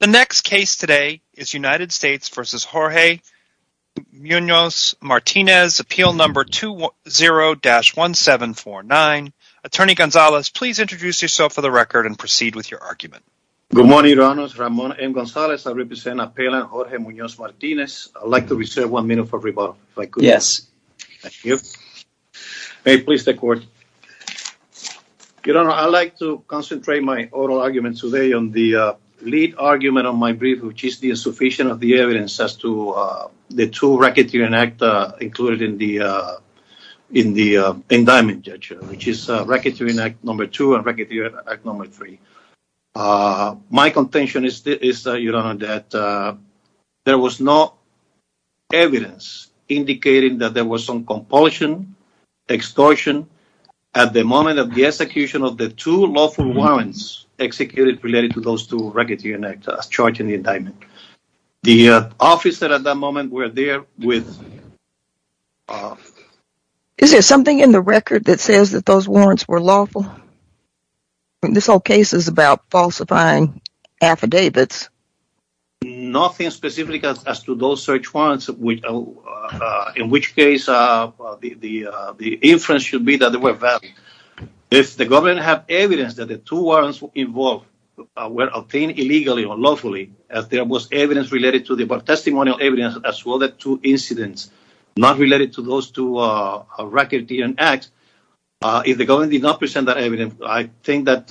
The next case today is United States v. Jorge Munoz-Martinez, Appeal No. 20-1749. Attorney Gonzales, please introduce yourself for the record and proceed with your argument. Good morning, Your Honors. Ramon M. Gonzales. I represent Appellant Jorge Munoz-Martinez. I'd like to reserve one minute for rebuttal, if I could. Yes. Thank you. May it please the Court. Your Honor, I'd like to concentrate my oral argument today on the lead argument on my brief, which is the insufficiency of the evidence as to the two racketeering acts included in the indictment, which is Racketeering Act No. 2 and Racketeering Act No. 3. My contention is that there was no evidence indicating that there was some compulsion, extortion, at the moment of the execution of the two lawful warrants executed related to those two racketeering acts charged in the indictment. The officer at that moment was there with... Is there something in the record that says that those warrants were lawful? This whole case is about falsifying affidavits. Nothing specific as to those search warrants, in which case the inference should be that they were valid. If the government has evidence that the two warrants involved were obtained illegally or lawfully, as there was evidence related to the testimonial evidence as well as two incidents not related to those two racketeering acts, if the government did not present that evidence, I think that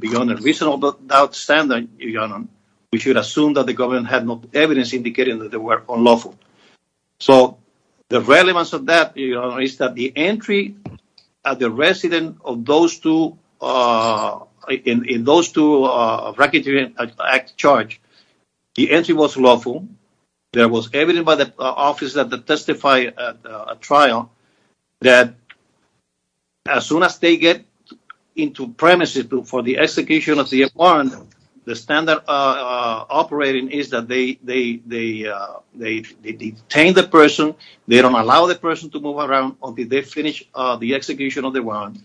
beyond a reasonable doubt standard, we should assume that the government had no evidence indicating that they were unlawful. So the relevance of that is that the entry at the residence of those two racketeering acts charged, the entry was lawful. There was evidence by the officers that testified at a trial that as soon as they get into premises for the execution of the warrant, the standard operating is that they detain the person, they don't allow the person to move around until they finish the execution of the warrant.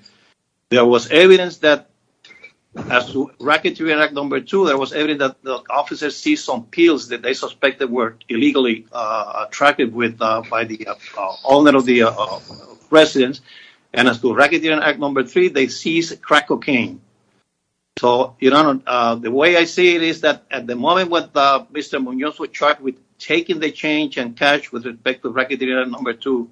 There was evidence that as to racketeering act number two, there was evidence that the officers seized some pills that they suspected were illegally tracked with by the owner of the residence, and as to racketeering act number three, they seized crack cocaine. So your honor, the way I see it is that at the moment what Mr. Munoz was charged with taking the change and cash with respect to racketeering number two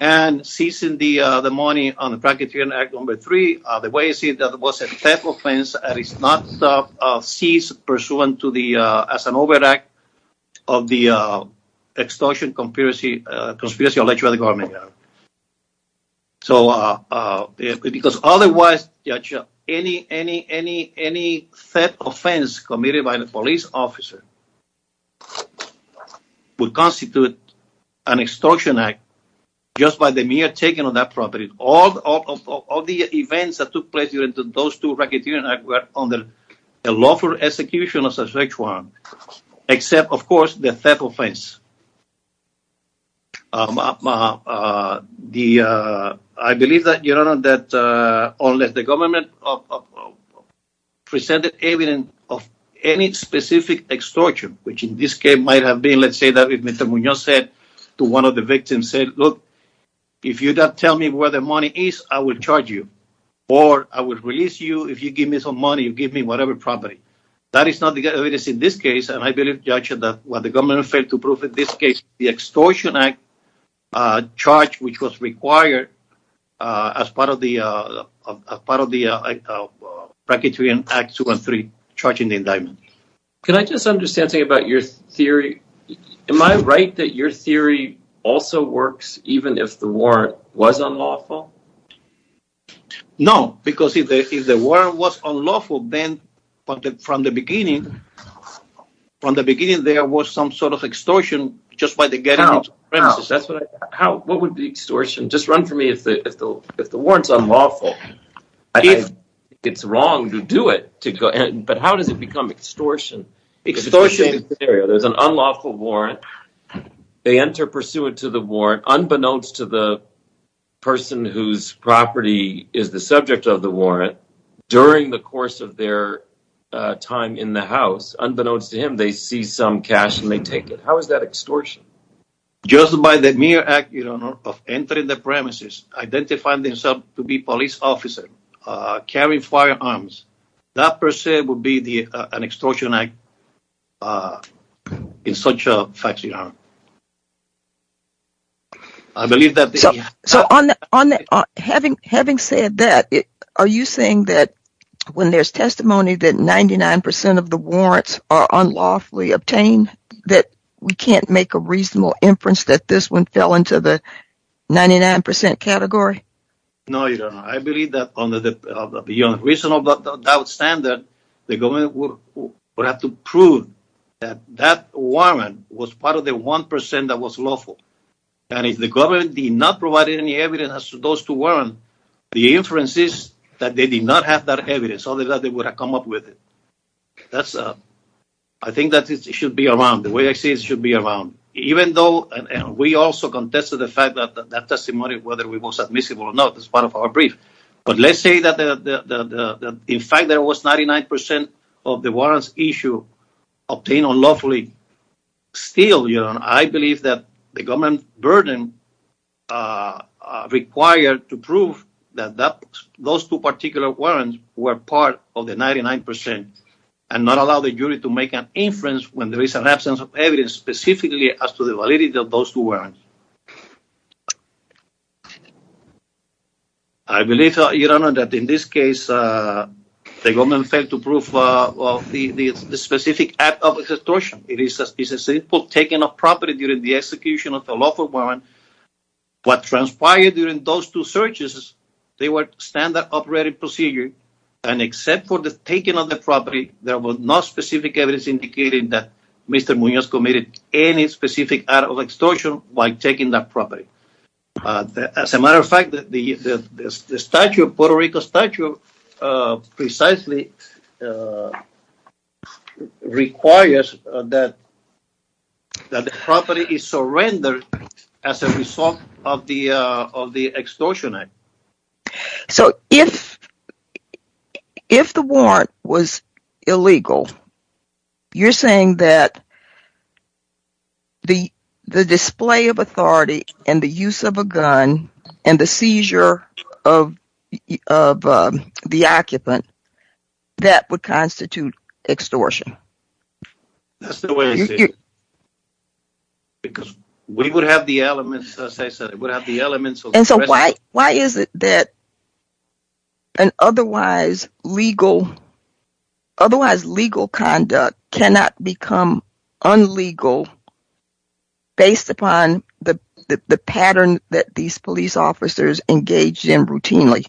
and seizing the money on the racketeering act number three, the way I see it, that was a theft offense that is not seized pursuant to the, as an overact of the extortion conspiracy alleged by the government. So because otherwise any theft offense committed by the police officer would constitute an extortion act just by the mere taking of that property. All the events that took place during those two racketeering acts were under the lawful execution of such one, except of course the theft offense. I believe that your honor that unless the government presented evidence of any specific extortion, which in this case might have been let's say that if Mr. Munoz said to one of the victims said, look if you don't tell me where the money is, I will charge you or I will release you if you give me some money, you give me whatever property. That is not the evidence in this case and I believe judge that what the government failed to prove in this case, the extortion act charge which was required as part of the racketeering act two and three charging the indictment. Can I just understand something about your theory? Am I right that your theory also works even if the warrant was unlawful? No, because if the warrant was unlawful, then from the beginning from the beginning there was some sort of extortion just by the getting into the premises. What would be extortion? Just run for me if the warrant's unlawful. If it's wrong to do it, but how does it become extortion? There's an unlawful warrant, they enter pursuant to the warrant unbeknownst to the person whose property is the subject of the warrant during the course of their time in the house. Unbeknownst to him, they see some cash and they take it. How is that extortion? Just by the mere act of entering the premises, identifying themselves to be police officer, carrying firearms, that per se would be an extortion act in such a fact. So having said that, are you saying that when there's testimony that 99% of the warrants are unlawfully obtained, that we can't make a reasonable inference that this one fell into the 99% category? No, I believe that on the reasonable doubt standard, the government would have to prove that that warrant was part of the 1% that was lawful. And if the government did not provide any evidence as to those two warrants, the inference is that they did not have that evidence, other than they would have come up with it. I think that it should be around, the way I see it should be around. Even though we also contested the fact that that testimony, whether it was admissible or not, is part of our brief. But let's say that in fact there was 99% of the warrants issue obtained unlawfully. Still, I believe that the government burden required to prove that those two particular warrants were part of the 99% and not allow the jury to make an inference when there is an absence of evidence specifically as to the validity of those two warrants. I believe, Your Honor, that in this case, the government failed to prove the specific act of extortion. It is a simple taking of property during the execution of a lawful warrant. What transpired during those two searches, they were standard operating procedure, and except for the taking of the property, there was no specific evidence indicating that taking that property. As a matter of fact, the Puerto Rico statute precisely requires that the property is surrendered as a result of the extortion act. So, if the warrant was illegal, you're saying that the display of authority and the use of a gun and the seizure of the occupant that would constitute extortion? That's the way it is, because we would have the elements, as I said, we would have the elements. And so, why is it that an otherwise legal conduct cannot become unlegal based upon the pattern that these police officers engage in routinely?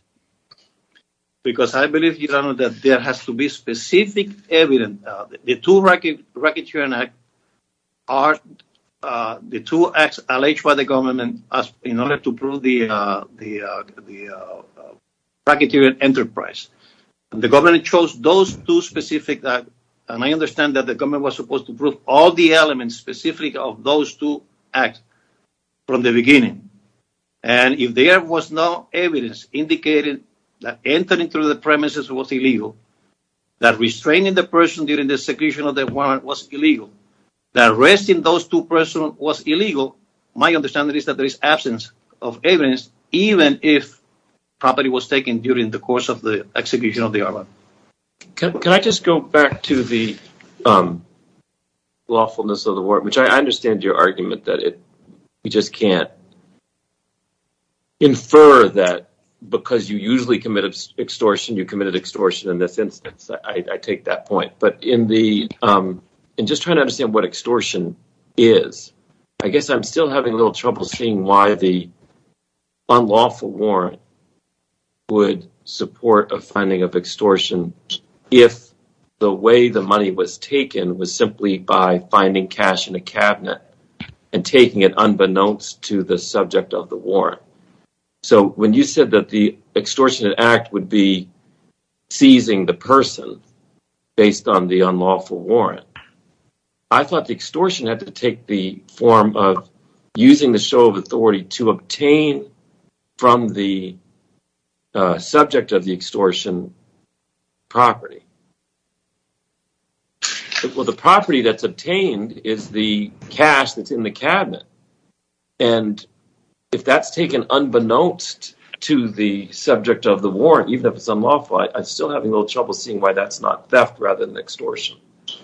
Because I believe, Your Honor, that there has to be specific evidence. The two acts alleged by the government in order to prove the racketeering enterprise. The government chose those two specific acts, and I understand that the government was supposed to prove all the elements specific of those two acts from the beginning. And if there was no evidence indicating that entering through the premises was illegal, that restraining the person during the execution of the warrant was illegal, that arresting those two persons was illegal, my understanding is that there is absence of evidence, even if property was taken during the course of the execution of the order. Can I just go back to the lawfulness of the warrant, which I understand your argument that you just can't infer that because you usually committed extortion, you committed extortion in this instance. I take that point. But in just trying to understand what extortion is, I guess I'm still having a little trouble seeing why the unlawful warrant would support a finding of extortion if the way the money was taken was simply by finding cash in a cabinet and taking it unbeknownst to the subject of the warrant. So, when you said that the extortionate act would be seizing the person based on the unlawful warrant, I thought the extortion had to take the form of using the show of authority to obtain from the subject of the extortion property. Well, the property that's obtained is the cash that's in the cabinet. And if that's taken unbeknownst to the subject of the warrant, even if it's unlawful, I'm still having a little trouble seeing why that's not theft rather than extortion.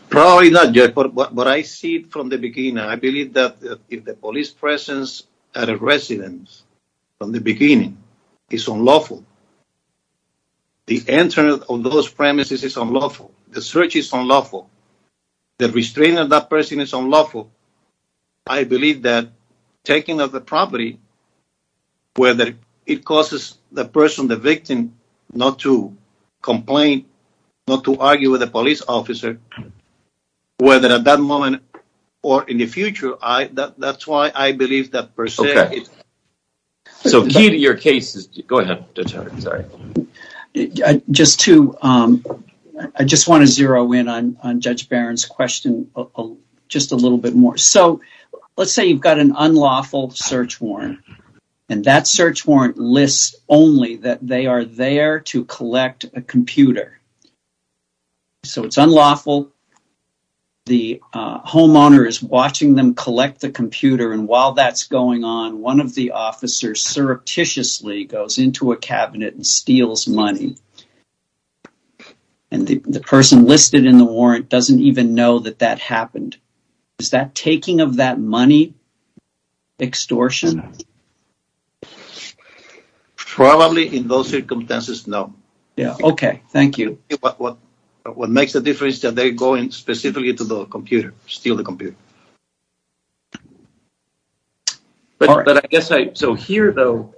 Probably not yet, but I see it from the beginning. I believe that if the police presence at a residence from the beginning is unlawful, the entrance on those premises is unlawful, the search is unlawful, the restraining of that person is unlawful. I believe that taking of the property, whether it causes the person, the victim, not to complain, not to argue with the police officer, whether at that moment or in the future, that's why I believe that per se. So, key to your case is... Go ahead, Judge Howard. Sorry. I just want to zero in on Judge Barron's question just a little bit more. So, let's say you've got an unlawful search warrant and that search warrant lists only that they are there to collect a computer. So, it's unlawful. The homeowner is watching them collect the computer and while that's going on, one of the officers surreptitiously goes into a cabinet and steals money, and the person listed in the warrant doesn't even know that that happened. Is that taking of that money extortion? Probably in those circumstances, no. Yeah, okay. Thank you. What makes the difference is that they're going specifically to the computer, steal the computer. But I guess I... So, here, though,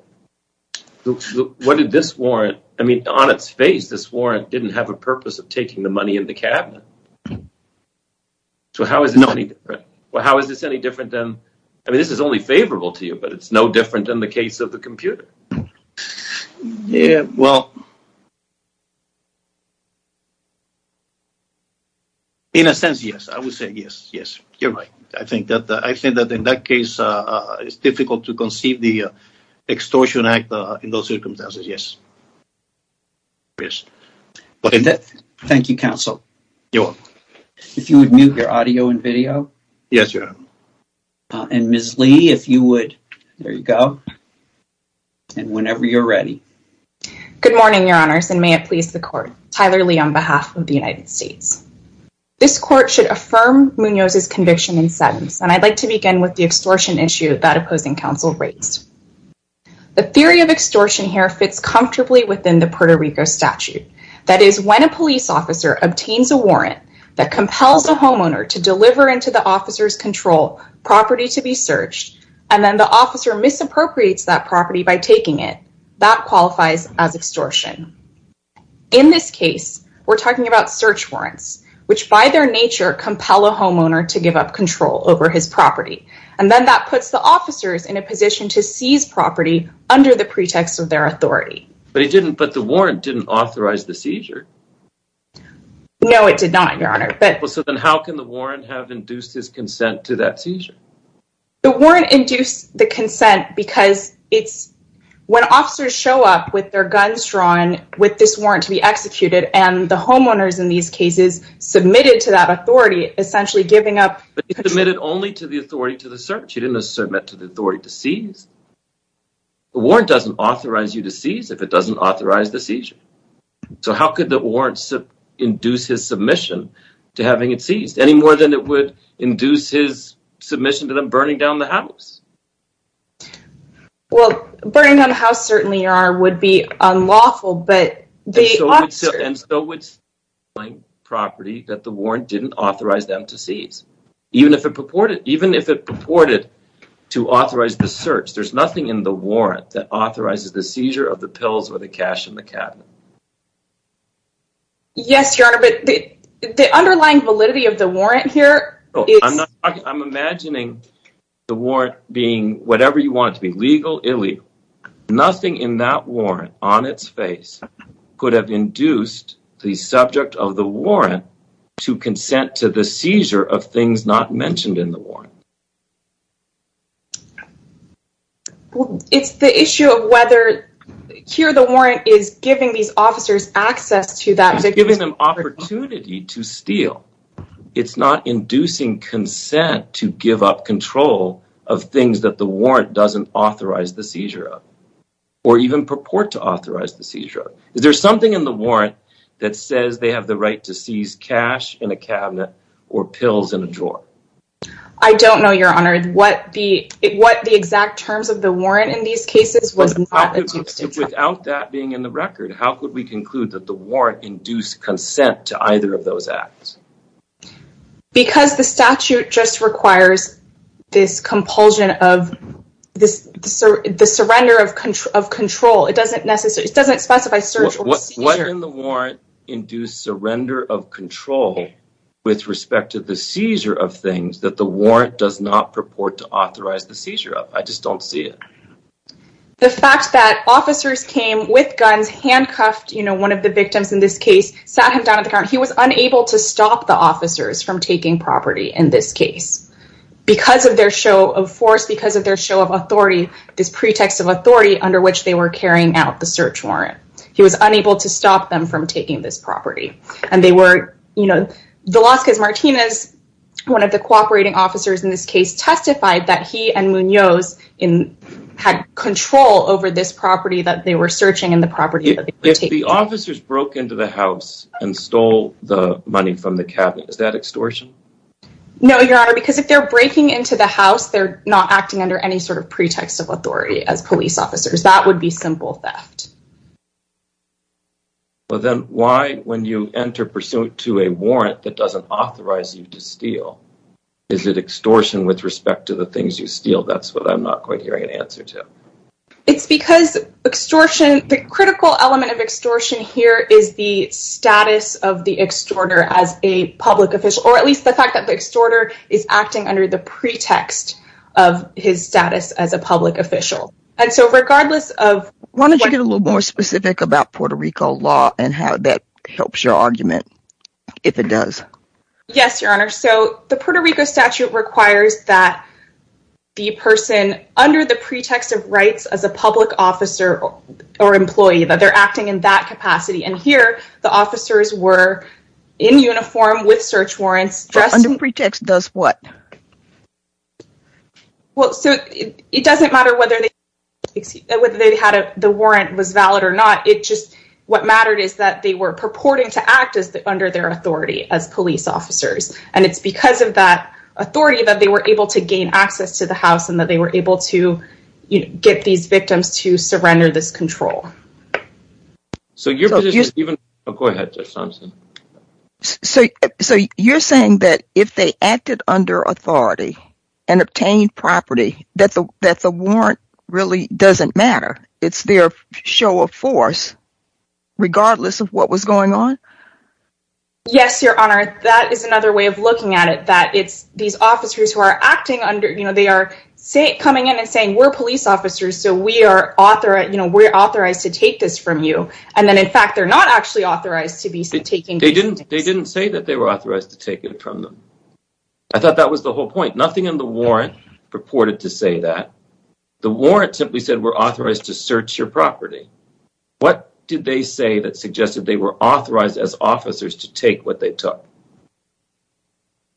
what did this warrant... I mean, on its face, this warrant didn't have a purpose of taking the money in the cabinet. So, how is it any different? Well, how is this any different than... I mean, this is only favorable to you, but it's no different than the case of the computer. Yeah, well... In a sense, yes. I would say yes. Yes, you're right. I think that in that case, it's difficult to conceive the extortion act in those circumstances, yes. Thank you, counsel. If you would mute your audio and video. Yes, your honor. And Ms. Lee, if you would... there you go. And whenever you're ready. Good morning, your honors, and may it please the court. Tyler Lee on behalf of the United States. This court should affirm Munoz's conviction in sentence, and I'd like to begin with the extortion issue that opposing counsel raised. The theory of extortion here fits comfortably within the Puerto Rico statute. That is, when a police officer obtains a warrant that compels a homeowner to deliver into the officer's control property to be searched, and then the officer misappropriates that property by taking it, that qualifies as extortion. In this case, we're talking about search warrants, which by their nature, compel a homeowner to give up control over his property. And then that puts the officers in a position to seize property under the pretext of their authority. But he didn't... but the warrant didn't authorize the seizure. No, it did not, your honor, but... Well, so then how can the warrant have induced his consent to that seizure? The warrant induced the consent because it's... when officers show up with their guns drawn, with this warrant to be executed, and the homeowners in these cases submitted to that authority, essentially giving up... But he submitted only to the authority to the search. He didn't submit to the authority to seize. The warrant doesn't authorize you to seize if it doesn't authorize the seizure. So how could the warrant induce his submission to having it seized, any more than it would induce his submission to them burning down the house? Well, burning down the house certainly, your honor, would be unlawful, but the officers... And so would... property that the warrant didn't authorize them to seize. Even if it purported... even if it purported to authorize the search, there's nothing in the warrant that authorizes the seizure of the pills or the cash in the cabinet. Yes, your honor, but the underlying validity of the warrant here is... I'm not... I'm imagining the warrant being whatever you want it to be, legal, illegal. Nothing in that warrant on its face could have induced the subject of the warrant to consent to the seizure of things not mentioned in the warrant. Well, it's the issue of whether... here, the warrant is giving these officers access to that... It's giving them opportunity to steal. It's not inducing consent to give up control of things that the warrant doesn't authorize the seizure of, or even purport to authorize the seizure. Is there something in the warrant that says they have the right to seize cash in a cabinet or pills in a drawer? I don't know, your honor. What the... what the exact terms of the warrant in these cases was... Without that being in the record, how could we conclude that the warrant induced consent to either of those acts? Because the statute just requires this compulsion of this... the surrender of control. It doesn't necessarily... it doesn't specify search or seizure. What in the warrant induced surrender of control with respect to the seizure of things that the warrant does not purport to authorize the seizure of? I just don't see it. The fact that officers came with guns, handcuffed, you know, one of the victims in this case, sat him down at the counter. He was unable to stop the officers from taking property in this case because of their show of force, because of their show of authority, this pretext of authority under which they were carrying out the search warrant. He was unable to stop them from taking this property. And they were, you know, Velazquez Martinez, one of the cooperating officers in this case, testified that he and Munoz had control over this property that they were searching and the property that they were taking. If the officers broke into the house and stole the money from the cabinet, is that extortion? No, your honor, because if they're breaking into the house, they're not acting under any sort of pretext of authority as police officers. That would be simple theft. Well, then why, when you enter pursuit to a warrant that doesn't authorize you to steal, is it extortion with respect to the things you steal? That's what I'm not quite hearing an answer to. It's because extortion, the critical element of extortion here is the status of the extorter as a public official, or at least the fact that the extorter is acting under the pretext of his status as a public official. And so regardless of... Why don't you get a little more specific about Puerto Rico law and how that helps your argument, if it does. Yes, your honor. So the Puerto Rico statute requires that the person under the pretext of rights as a public officer or employee, that they're acting in that capacity. And here, the officers were in uniform with search warrants. Under pretext does what? Well, so it doesn't matter whether the warrant was valid or not. It just, what mattered is that they were purporting to act under their authority as police officers. And it's because of that authority that they were able to gain access to the house and that they were able to get these victims to surrender this control. So your position is even... Oh, go ahead, Judge Thompson. So you're saying that if they acted under authority and obtained property, that the warrant really doesn't matter. It's their show of force, regardless of what was going on? Yes, your honor. That is another way of looking at it, that it's these officers who are acting under... They are coming in and saying, we're police officers, so we're authorized to take this from you. And then in fact, they're not actually authorized to be taking... They didn't say that they were authorized to take it from them. I thought that was the whole point. Nothing in the warrant purported to say that. The warrant simply said, we're authorized to search your property. What did they say that suggested they were authorized as officers to take what they took?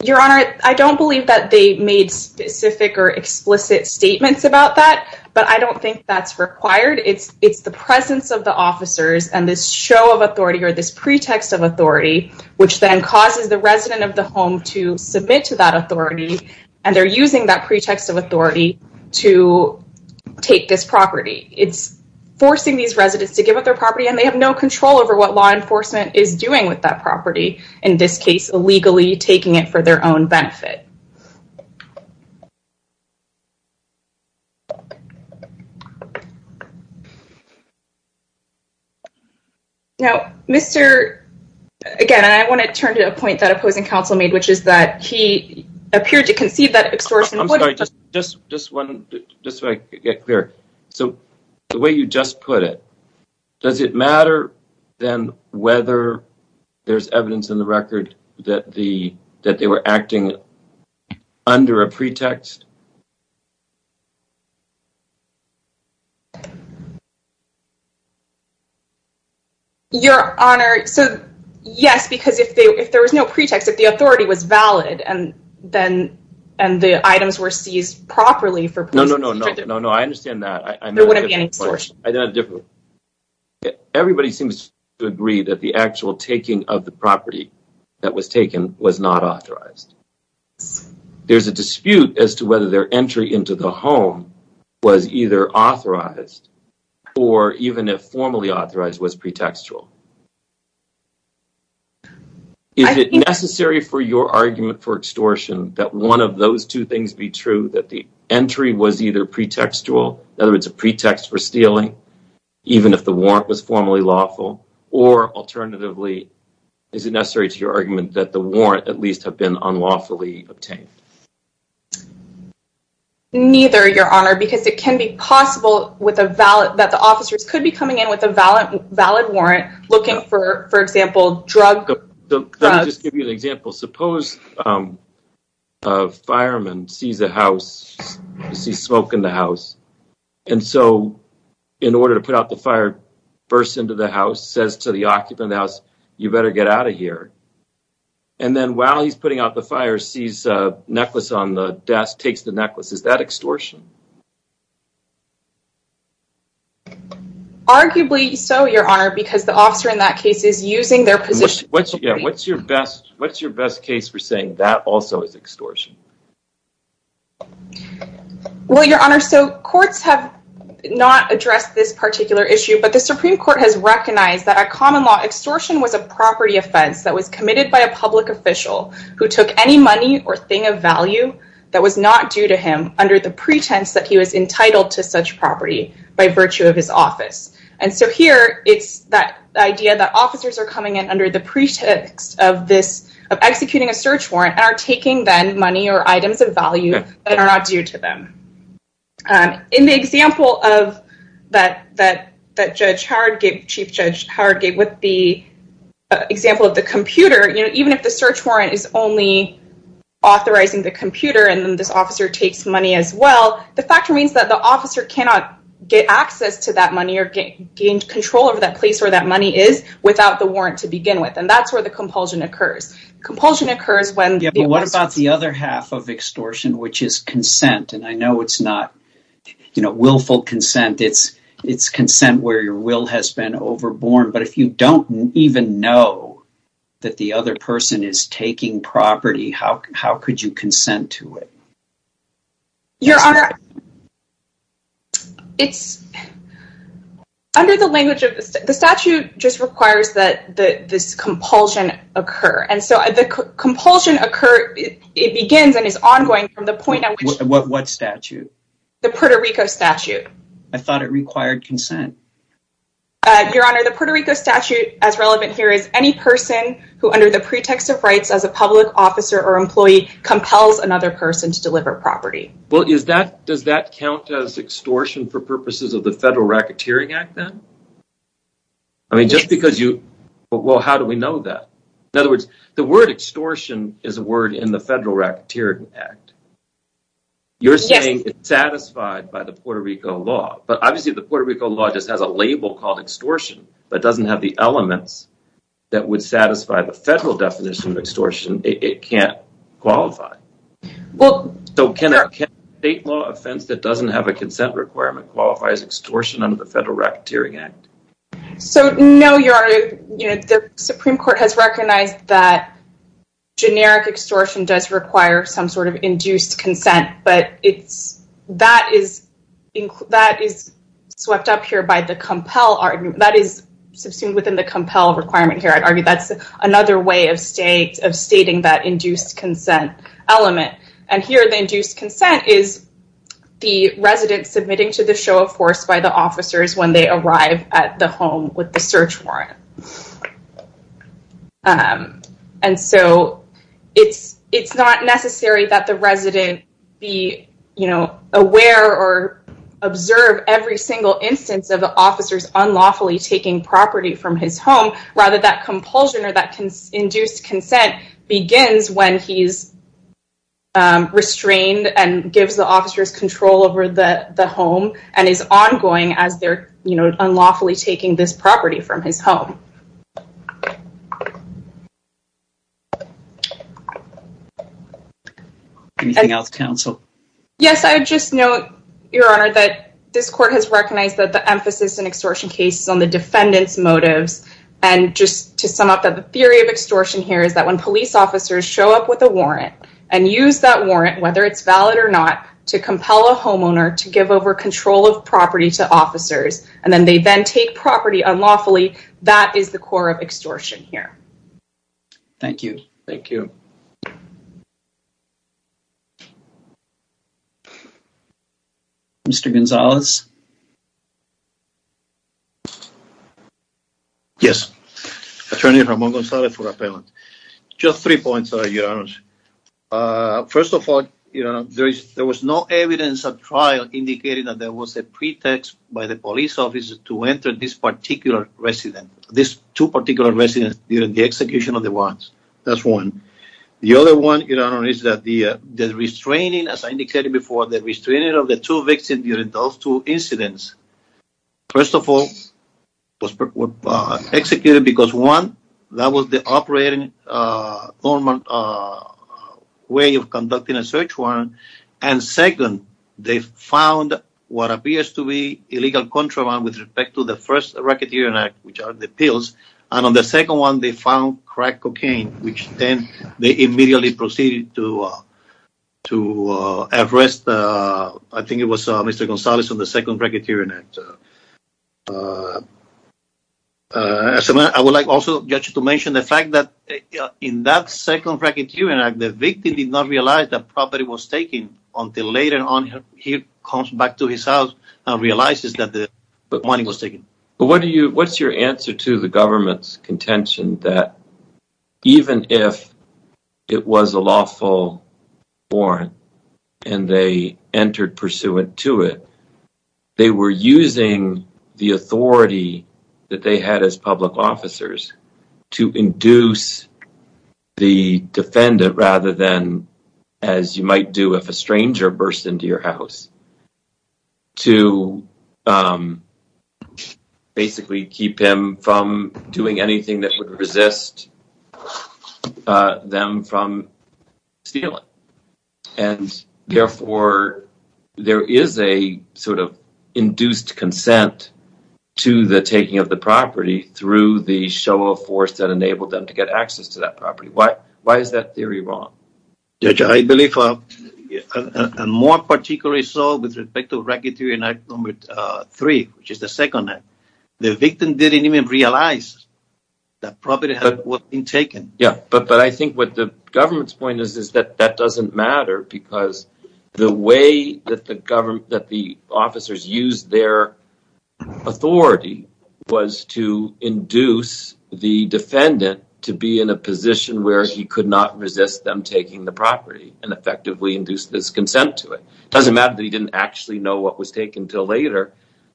Your honor, I don't believe that they made specific or explicit statements about that, but I don't think that's required. It's the presence of the officers and this show of authority or this pretext of authority, which then causes the resident of the home to submit to that authority. And they're using that pretext of authority to take this property. It's forcing these residents to give up their property and they have no control over what law enforcement is doing with that property. In this case, illegally taking it for their own Now, Mr... Again, I want to turn to a point that opposing counsel made, which is that he appeared to conceive that extortion... I'm sorry, just so I get clear. So the way you just put it, does it matter then whether there's evidence in the record that they were acting under a pretext? Your honor, so yes, because if there was no pretext, if the authority was valid and the items were seized properly for... No, no, no, no, no, no. I understand that. Everybody seems to agree that the actual taking of the property that was taken was not authorized. There's a dispute as to whether their entry into the home was either authorized or even if formally authorized was pretextual. Is it necessary for your argument for extortion that one of those two things be true, that the entry was either pretextual, in other words, a pretext for stealing, even if the warrant was formally lawful, or alternatively, is it necessary to your argument that the warrant at least have unlawfully obtained? Neither, your honor, because it can be possible that the officers could be coming in with a valid warrant looking for, for example, drug... Let me just give you an example. Suppose a fireman sees a house, sees smoke in the house, and so in order to put out the fire, bursts into the house, says to the occupant of the house, you better get out of here. And then while he's putting out the fire, sees a necklace on the desk, takes the necklace. Is that extortion? Arguably so, your honor, because the officer in that case is using their position. What's, yeah, what's your best, what's your best case for saying that also is extortion? Well, your honor, so courts have not addressed this particular issue, but the Supreme Court has recognized that a common law extortion was a property offense that was committed by a public official who took any money or thing of value that was not due to him under the pretense that he was entitled to such property by virtue of his office. And so here, it's that idea that officers are coming in under the pretext of this, of executing a search warrant and are taking then money or that, that, that Judge Howard gave, Chief Judge Howard gave with the example of the computer, you know, even if the search warrant is only authorizing the computer, and then this officer takes money as well, the fact remains that the officer cannot get access to that money or gain control over that place where that money is without the warrant to begin with, and that's where the compulsion occurs. Compulsion occurs when... What about the other half of extortion, which is consent? And I know it's not, you know, willful consent. It's, it's consent where your will has been overborne. But if you don't even know that the other person is taking property, how, how could you consent to it? Your Honor, it's, under the language of the statute just requires that the, this compulsion occur. And so the compulsion occur, it begins and is ongoing from the point... What statute? The Puerto Rico statute. I thought it required consent. Your Honor, the Puerto Rico statute as relevant here is any person who under the pretext of rights as a public officer or employee compels another person to deliver property. Well, is that, does that count as extortion for purposes of the Federal Racketeering Act then? I mean, just because you... Well, how do we know that? In other words, the word extortion is a word in the Federal Racketeering Act. You're saying it's satisfied by the Puerto Rico law, but obviously the Puerto Rico law just has a label called extortion, but it doesn't have the elements that would satisfy the federal definition of extortion. It can't qualify. So can a state law offense that doesn't have a consent requirement qualify as extortion under the Federal Racketeering Act? So no, Your Honor, the Supreme Court has recognized that generic extortion does require some sort of induced consent, but that is swept up here by the compel argument. That is subsumed within the compel requirement here. I'd argue that's another way of stating that induced consent element. And here the induced consent is the resident submitting to the show of force by the officers when they arrive at the home with the search warrant. And so it's not necessary that the resident be aware or observe every single instance of officers unlawfully taking property from his home. Rather, that compulsion or that induced consent begins when he's restrained and gives the officers control over the home and is ongoing as they're unlawfully taking this property from his home. Anything else, counsel? Yes, I would just note, Your Honor, that this court has recognized that the emphasis in extortion cases on the defendant's motives. And just to sum up that the theory of officers show up with a warrant and use that warrant, whether it's valid or not, to compel a homeowner to give over control of property to officers, and then they then take property unlawfully, that is the core of extortion here. Thank you. Thank you. Mr. Gonzalez? Yes. Attorney Ramon Gonzalez for appellant. Just three points, Your Honor. First of all, there was no evidence of trial indicating that there was a pretext by the police officer to enter this particular resident, these two particular residents during the execution of the warrants. That's one. The other one, Your Honor, is that the restraining, as I indicated before, the restraining of the two victims during those two incidents, first of all, was executed because, one, that was the operating normal way of conducting a search warrant, and second, they found what appears to be illegal contraband with respect to the first Racketeering Act, which are the pills, and on the second one, they found crack cocaine, which then they immediately proceeded to arrest, I think it was Mr. Gonzalez, on the second Racketeering Act. I would like also, Judge, to mention the fact that in that second Racketeering Act, the victim did not realize that property was taken until later on he comes back to his house and realizes that the money was taken. But what's your answer to the government's contention that even if it was a lawful warrant and they entered pursuant to it, they were using the authority that they had as public officers to induce the defendant rather than, as you might do if a stranger burst into your house, to basically keep him from doing anything that would resist them from stealing? And therefore, there is a sort of induced consent to the taking of the property through the show of force that enabled them to get access to that property. I believe, and more particularly so with respect to Racketeering Act number three, which is the second act, the victim didn't even realize that property had been taken. Yeah, but I think what the government's point is is that that doesn't matter because the way that the government, that the officers used their authority was to induce the defendant to be in a and effectively induce his consent to it. It doesn't matter that he didn't actually know what was taken until later.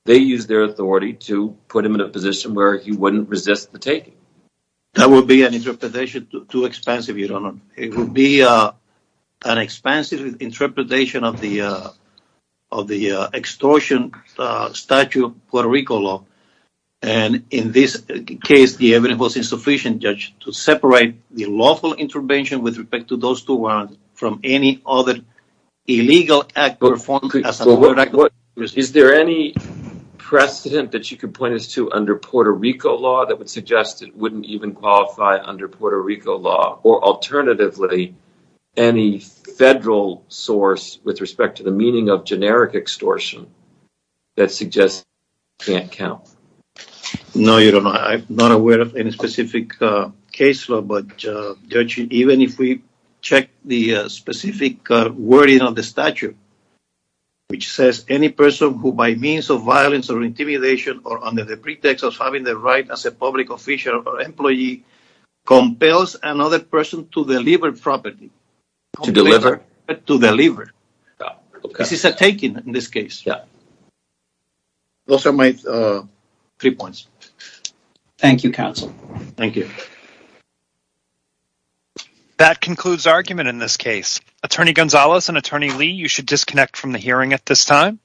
They used their authority to put him in a position where he wouldn't resist the taking. That would be an interpretation too expansive, Your Honor. It would be an expansive interpretation of the extortion statute, Puerto Rico law. And in this case, the evidence was insufficient, Judge, to separate the lawful intervention with respect to those two words from any other illegal act. Is there any precedent that you could point us to under Puerto Rico law that would suggest it wouldn't even qualify under Puerto Rico law, or alternatively, any federal source with respect to the meaning of generic extortion that suggests it can't count? No, Your Honor. I'm not aware of any specific case law, but, Judge, even if we check the specific wording of the statute, which says any person who by means of violence or intimidation or under the pretext of having the right as a public official or employee compels another person to deliver property. To deliver? To deliver. This is a taking in this case. Yeah. Those are my three points. Thank you, Counsel. Thank you. That concludes argument in this case. Attorney Gonzalez and Attorney Lee, you should disconnect from the hearing at this time.